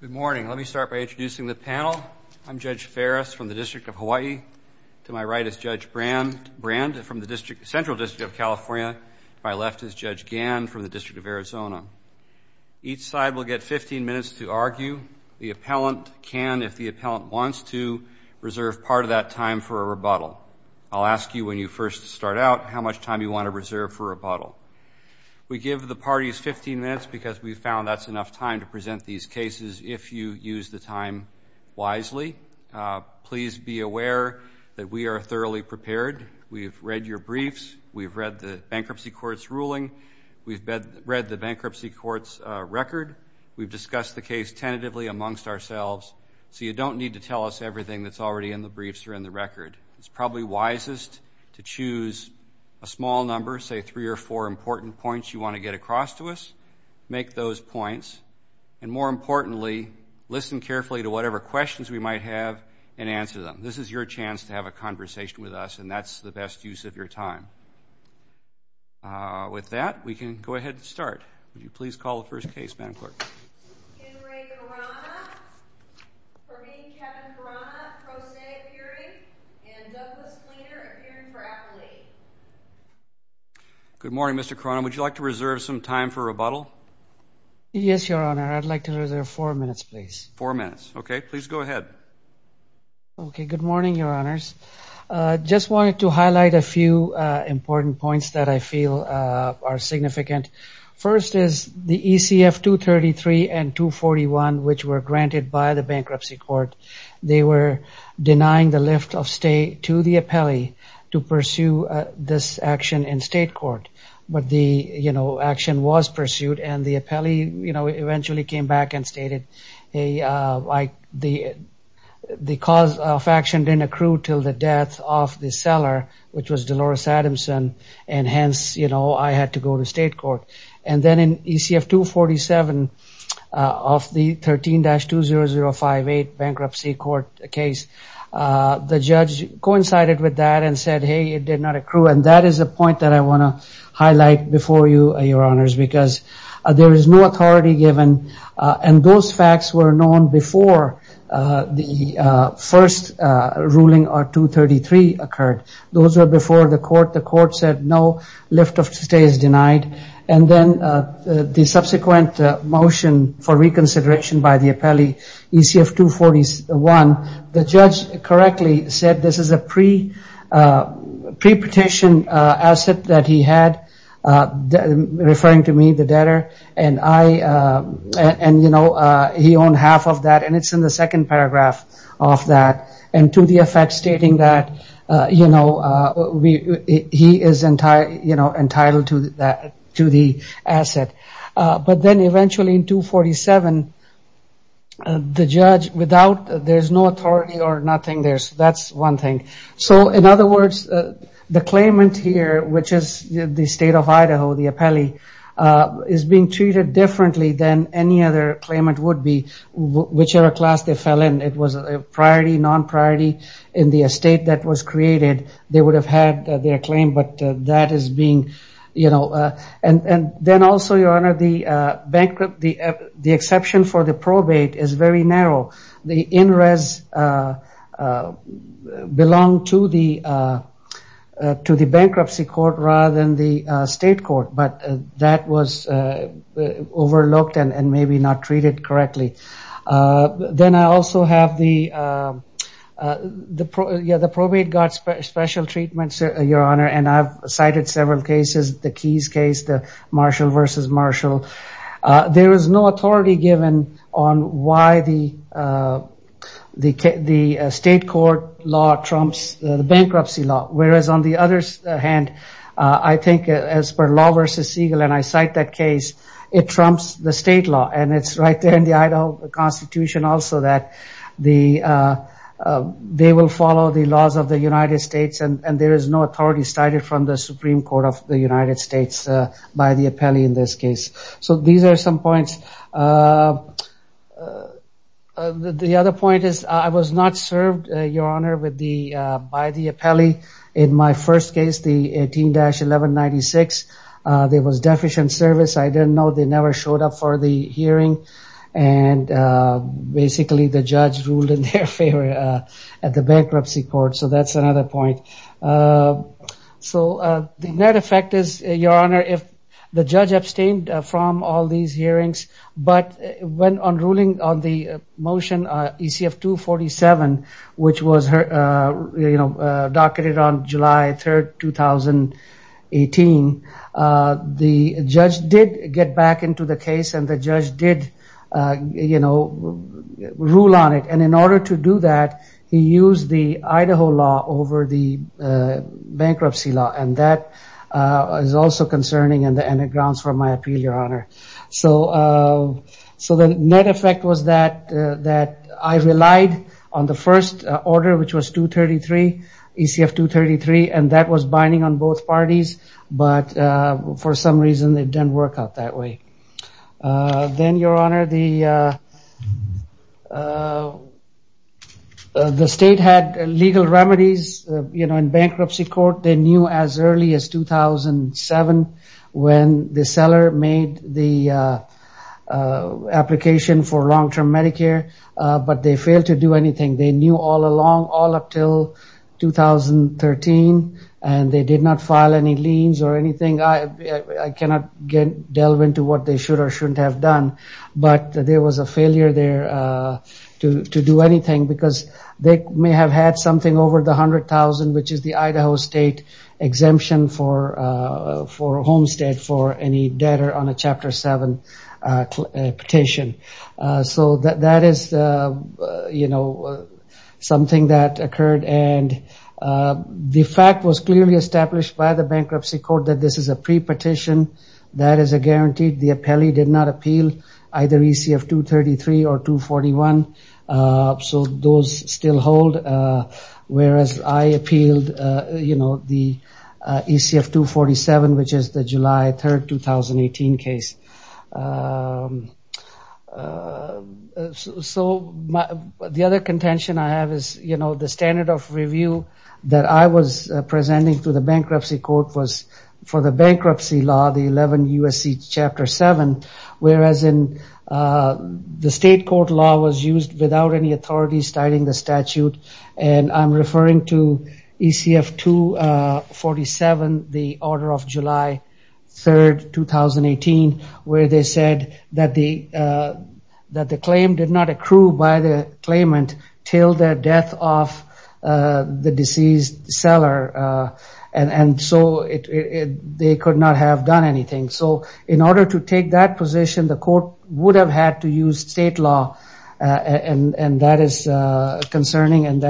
Good morning. Let me start by introducing the panel. I'm Judge Ferris from the District of Hawaii. To my right is Judge Brand from the Central District of California. To my left is Judge Gann from the District of Arizona. Each side will get 15 minutes to argue. The appellant can, if the appellant wants to, reserve part of that time for a rebuttal. I'll ask you when you first start out how much time you want to reserve for rebuttal. We give the parties 15 minutes because we present these cases if you use the time wisely. Please be aware that we are thoroughly prepared. We've read your briefs. We've read the bankruptcy court's ruling. We've read the bankruptcy court's record. We've discussed the case tentatively amongst ourselves. So you don't need to tell us everything that's already in the briefs or in the record. It's probably wisest to choose a small number, say three or four important points you want to get across to us. Make those points. And more importantly, listen carefully to whatever questions we might have and answer them. This is your chance to have a conversation with us, and that's the best use of your time. With that, we can go ahead and start. Would you please call the first case, Madam Clerk? Henry Corona. For me, Kevin Corona, pro se appearing. And Douglas Cleaner, appearing for appellate. Good morning, Mr. Corona. Would you like to reserve some time for rebuttal? Yes, Your Honor. I'd like to reserve four minutes, please. Four minutes. OK, please go ahead. OK, good morning, Your Honors. Just wanted to highlight a few important points that I feel are significant. First is the ECF 233 and 241, which were granted by the bankruptcy court. They were denying the lift of stay to the appellee to pursue this action in state court. But the action was pursued, and the appellee eventually came back and stated, hey, the cause of action didn't accrue till the death of the seller, which was Dolores Adamson. And hence, I had to go to state court. And then in ECF 247 of the 13-20058 bankruptcy court case, the judge coincided with that and said, hey, it did not accrue. And that is a point that I want to highlight before you, Your Honors, because there is no authority given. And those facts were known before the first ruling on 233 occurred. Those were before the court. The court said, no, lift of stay is denied. And then the subsequent motion for reconsideration by the appellee, ECF 241, the judge correctly said this is a pre-petition asset that he had, referring to me, the debtor. And he owned half of that. And it's in the second paragraph of that, and to the effect stating that he is entitled to the asset. But then eventually in 247, the judge, without, there's no authority or nothing there. That's one thing. So in other words, the claimant here, which is the state of Idaho, the appellee, is being treated differently than any other claimant would be, whichever class they fell in. It was a priority, non-priority in the estate that was created. They would have had their claim, but that is being, you know. And then also, Your Honor, the exception for the probate is very narrow. The in-res belong to the bankruptcy court rather than the state court. But that was overlooked and maybe not treated correctly. Then I also have the probate got special treatment, Your Honor. And I've cited several cases. The Keys case, the Marshall versus Marshall. There is no authority given on why the state court law trumps the bankruptcy law. Whereas on the other hand, I think as per Law versus Siegel, and I cite that case, it trumps the state law. And it's right there in the Idaho Constitution also that they will follow the laws of the United States. And there is no authority started from the Supreme Court of the United States by the appellee in this case. So these are some points. The other point is I was not served, Your Honor, by the appellee. In my first case, the 18-1196, there was deficient service. I didn't know. They never showed up for the hearing. And basically, the judge ruled in their favor at the bankruptcy court. So that's another point. So the net effect is, Your Honor, if the judge abstained from all these hearings, but went on ruling on the motion ECF-247, which was docketed on July 3, 2018, the judge did get back into the case. And the judge did rule on it. And in order to do that, he used the Idaho law over the bankruptcy law. And that is also concerning and grounds for my appeal, Your Honor. So the net effect was that I relied on the first order, which was 233, ECF-233. And that was binding on both parties. But for some reason, it didn't work out that way. Then, Your Honor, the state had legal remedies. In bankruptcy court, they knew as early as 2007 when the seller made the application for long-term Medicare. But they failed to do anything. They knew all along, all up till 2013. And they did not file any liens or anything. I cannot delve into what they should or shouldn't have done. But there was a failure there to do anything, because they may have had something over the $100,000, which is the Idaho state exemption for Homestead for any debtor on a Chapter 7 petition. So that is something that occurred. And the fact was clearly established by the bankruptcy court that this is a pre-petition. That is a guarantee. The appellee did not appeal either ECF-233 or 241. So those still hold, whereas I appealed the ECF-247, which is the July 3, 2018 case. So the other contention I have is the standard of review that I was presenting to the bankruptcy court for the bankruptcy law, the 11 U.S.C. Chapter 7, whereas the state court law was used without any authority starting the statute. And I'm referring to ECF-247, the order of July 3, 2018, where they said that the claim did not accrue by the claimant till the death of the deceased seller. And so they could not have done anything. So in order to take that position, the court would have had to use state law. And that is concerning. And,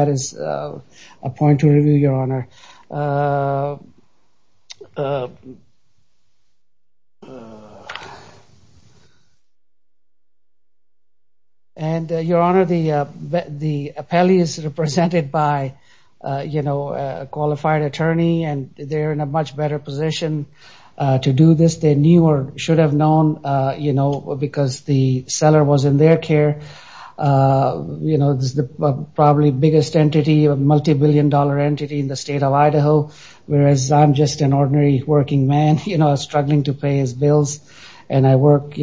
Your Honor, the appellee is represented by a qualified attorney, and they're in a much better position to do this. They knew or should have known because the seller was in their care. This is probably the biggest entity, a multibillion-dollar entity in the state of Idaho, whereas I'm just an ordinary working man struggling to pay his bills. And I work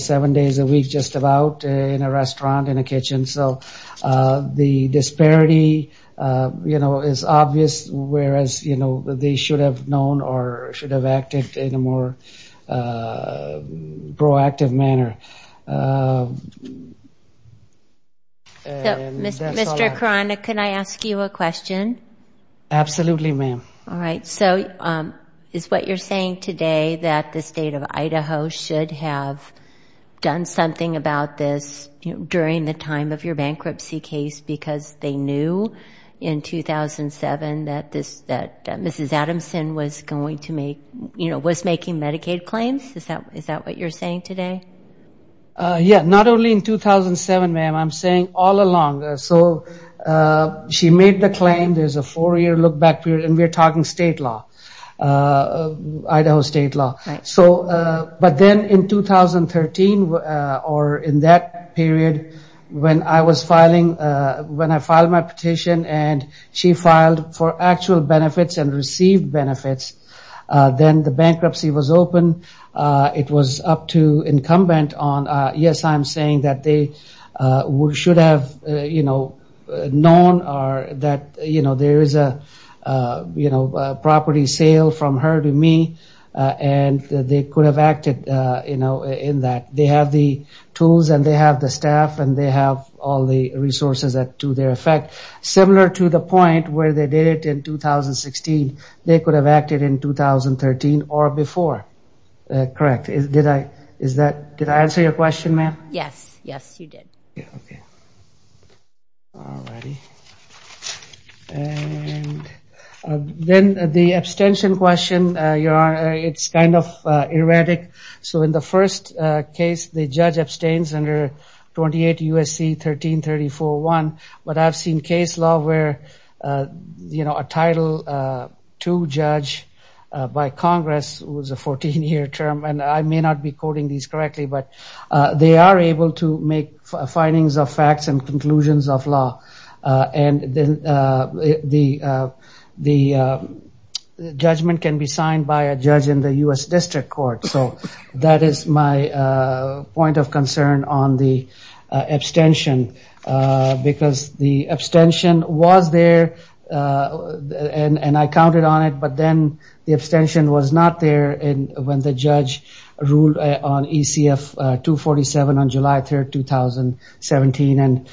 seven days a week just about in a restaurant, in a kitchen. So the disparity is obvious, whereas they should have known or should have acted in a more proactive manner. And that's all I have. So, Mr. Karana, can I ask you a question? Absolutely, ma'am. All right. So is what you're saying today that the state of Idaho should have done something about this during the time of your bankruptcy case because they knew in 2007 that Mrs. Adamson was going to make, was making Medicaid claims? Is that what you're saying today? Yeah. Not only in 2007, ma'am. I'm saying all along. So she made the claim. There's a four-year look-back period, and we're talking state law, Idaho state law. But then in 2013 or in that period, when I was filing, when I filed my petition and she filed for actual benefits and received benefits, then the bankruptcy was open. It was up to incumbent on, yes, I'm saying that they should have known that there is a property sale from her to me, and they could have acted in that. They have the tools, and they have the staff, and they have all the resources to their effect. Similar to the point where they did it in 2016, they could have acted in 2013 or before. Correct. Did I answer your question, ma'am? Yes. Yes, you did. Yeah. OK. All righty. And then the abstention question, Your Honor, it's kind of erratic. So in the first case, the judge abstains under 28 USC 1334-1. But I've seen case law where a Title II judge by Congress, who is a 14-year term, and I may not be quoting these correctly, but they are able to make findings of facts and conclusions of law. And the judgment can be signed by a judge in the US District Court. So that is my point of concern on the abstention, because the abstention was there, and I counted on it. But then the abstention was not there when the judge ruled on ECF 247 on July 3, 2017, and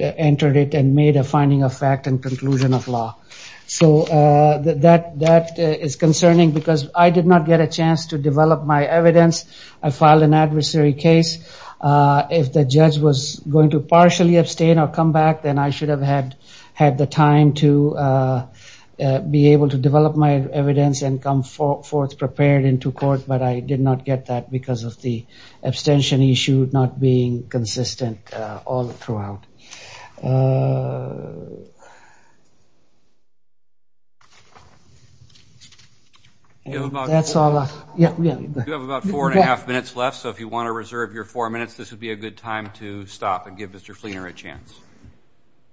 entered it and made a finding of fact and conclusion of law. So that is concerning, because I did not get a chance to develop my evidence. I filed an adversary case. If the judge was going to partially abstain or come back, then I should have had the time to be able to develop my evidence and come forth prepared into court. But I did not get that because of the abstention issue not being consistent all throughout. That's all I have. You have about four and a half minutes left. So if you want to reserve your four minutes, this would be a good time to stop and give Mr. Fleener a chance.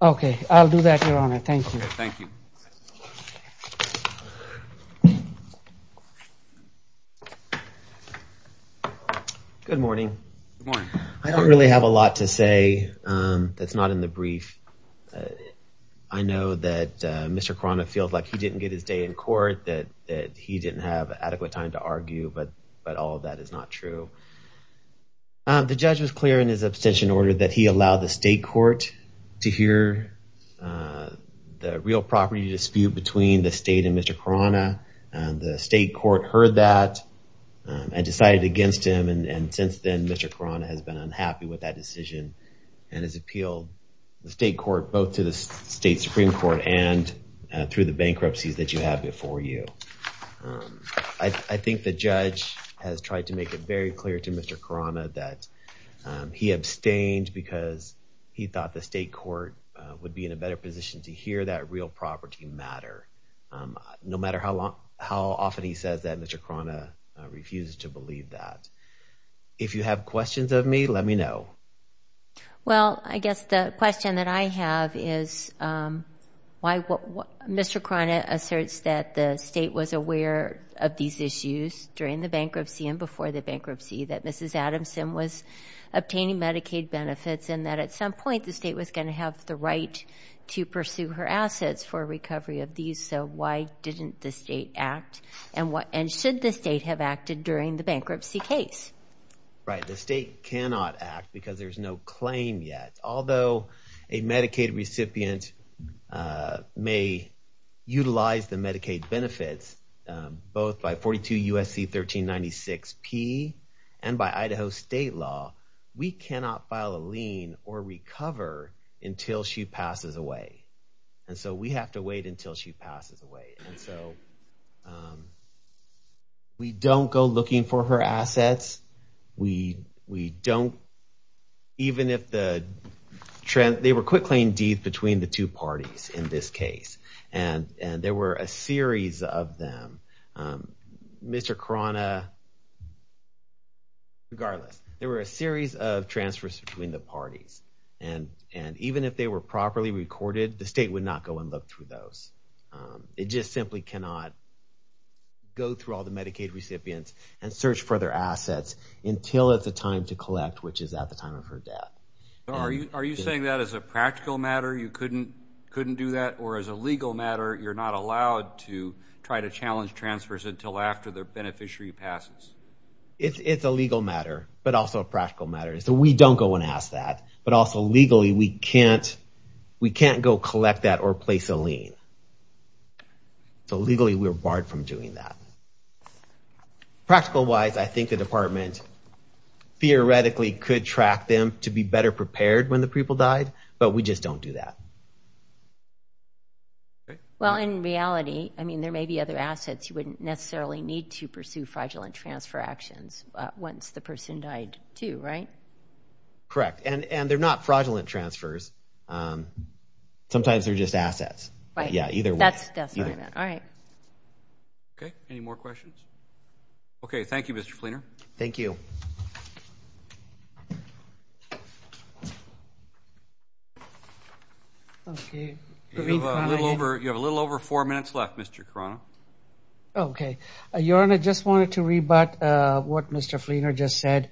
OK, I'll do that, Your Honor. Thank you. Thank you. Good morning. I don't really have a lot to say that's not in the brief. I know that Mr. Krona feels like he didn't get his day in court, that he didn't have adequate time to argue, but all of that is not true. The judge was clear in his abstention order that he allowed the state court to hear the real property dispute between the state and Mr. Krona. The state court heard that and decided against him. And since then, Mr. Krona has been unhappy with that decision and has appealed the state court both to the state Supreme Court and through the bankruptcies that you have before you. I think the judge has tried to make it very clear to Mr. Krona that he abstained because he thought the state court would be in a better position to hear that real property matter, no matter how often he says that Mr. Krona refuses to believe that. If you have questions of me, let me know. Well, I guess the question that I have is why Mr. Krona asserts that the state was aware of these issues during the bankruptcy and before the bankruptcy, that Mrs. Adamson was obtaining Medicaid benefits, and that at some point, the state was going to have the right to pursue her assets for recovery of these. So why didn't the state act? And should the state have acted during the bankruptcy case? Right, the state cannot act because there's no claim yet. Although a Medicaid recipient may utilize the Medicaid benefits, both by 42 USC 1396P and by Idaho state law, we cannot file a lien or recover until she passes away. And so we have to wait until she passes away. And so we don't go looking for her assets. We don't, even if the trend, they were quick claim deeds between the two parties in this case. And there were a series of them. Mr. Krona, regardless, there were a series of transfers between the parties. And even if they were properly recorded, the state would not go and look through those. It just simply cannot go through all the Medicaid recipients and search for their assets until it's the time to collect, which is at the time of her death. Are you saying that as a practical matter you couldn't do that? Or as a legal matter, you're not allowed to try to challenge transfers until after the beneficiary passes? It's a legal matter, but also a practical matter. So we don't go and ask that. But also legally, we can't go collect that or place a lien. So legally, we're barred from doing that. Practical-wise, I think the department theoretically could track them to be better prepared when the people died. But we just don't do that. Well, in reality, I mean, there may be other assets you wouldn't necessarily need to pursue fraudulent transfer actions once the person died too, right? Correct, and they're not fraudulent transfers. Sometimes they're just assets. That's definitely it. All right. OK, any more questions? OK, thank you, Mr. Fleener. Thank you. You have a little over four minutes left, Mr. Carano. OK, Your Honor, I just wanted to rebut what Mr. Fleener just said.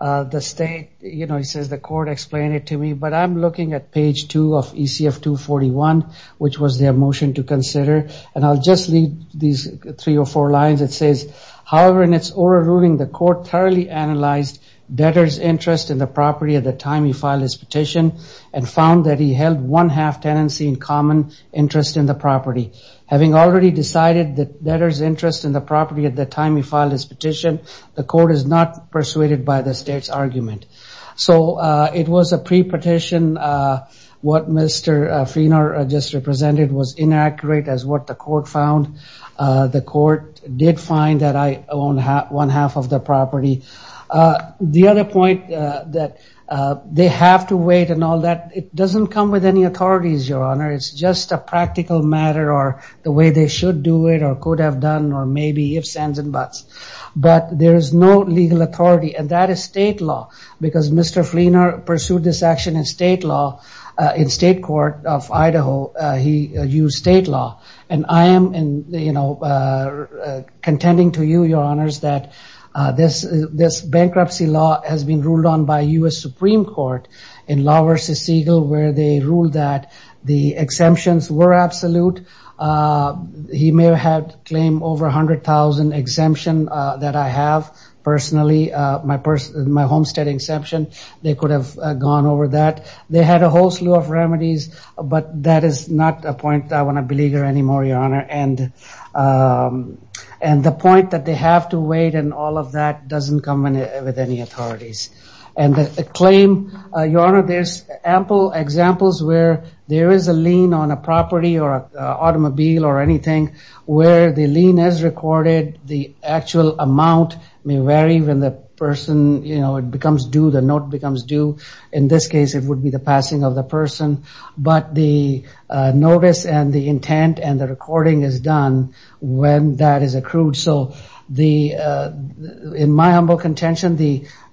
The state, you know, he says the court explained it to me. But I'm looking at page 2 of ECF 241, which was their motion to consider. And I'll just read these three or four lines. It says, however, in its oral ruling, the court thoroughly analyzed debtor's interest in the property at the time he filed his petition and found that he held one half tenancy in common interest in the property. Having already decided that debtor's interest in the property at the time he filed his petition, the court is not persuaded by the state's argument. So it was a pre-petition. What Mr. Fleener just represented was inaccurate as what the court found. The court did find that I own one half of the property. The other point that they have to wait and all that, it doesn't come with any authorities, Your Honor. It's just a practical matter or the way they should do it or could have done or maybe ifs, ands, and buts. But there is no legal authority. And that is state law. Because Mr. Fleener pursued this action in state law, in state court of Idaho, he used state law. And I am contending to you, Your Honors, that this bankruptcy law has been ruled on by US Supreme Court in Law v. Segal, where they ruled that the exemptions were absolute. He may have claimed over 100,000 exemption that I have personally, my homestead exemption. They could have gone over that. They had a whole slew of remedies. But that is not a point I want to believe anymore, Your Honor. And the point that they have to wait and all of that doesn't come with any authorities. And the claim, Your Honor, there's ample examples where there is a lien on a property or automobile or anything where the lien is recorded. The actual amount may vary when the person, you know, it becomes due, the note becomes due. In this case, it would be the passing of the person. But the notice and the intent and the recording is done when that is accrued. So in my humble contention,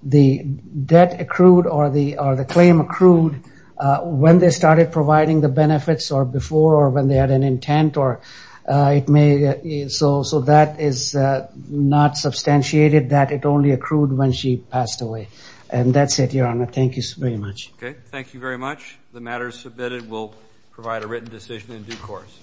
the debt accrued or the claim accrued when they started providing the benefits or before or when they had an intent or it may. So that is not substantiated that it only accrued when she passed away. And that's it, Your Honor. Thank you very much. OK, thank you very much. The matter is submitted. We'll provide a written decision in due course.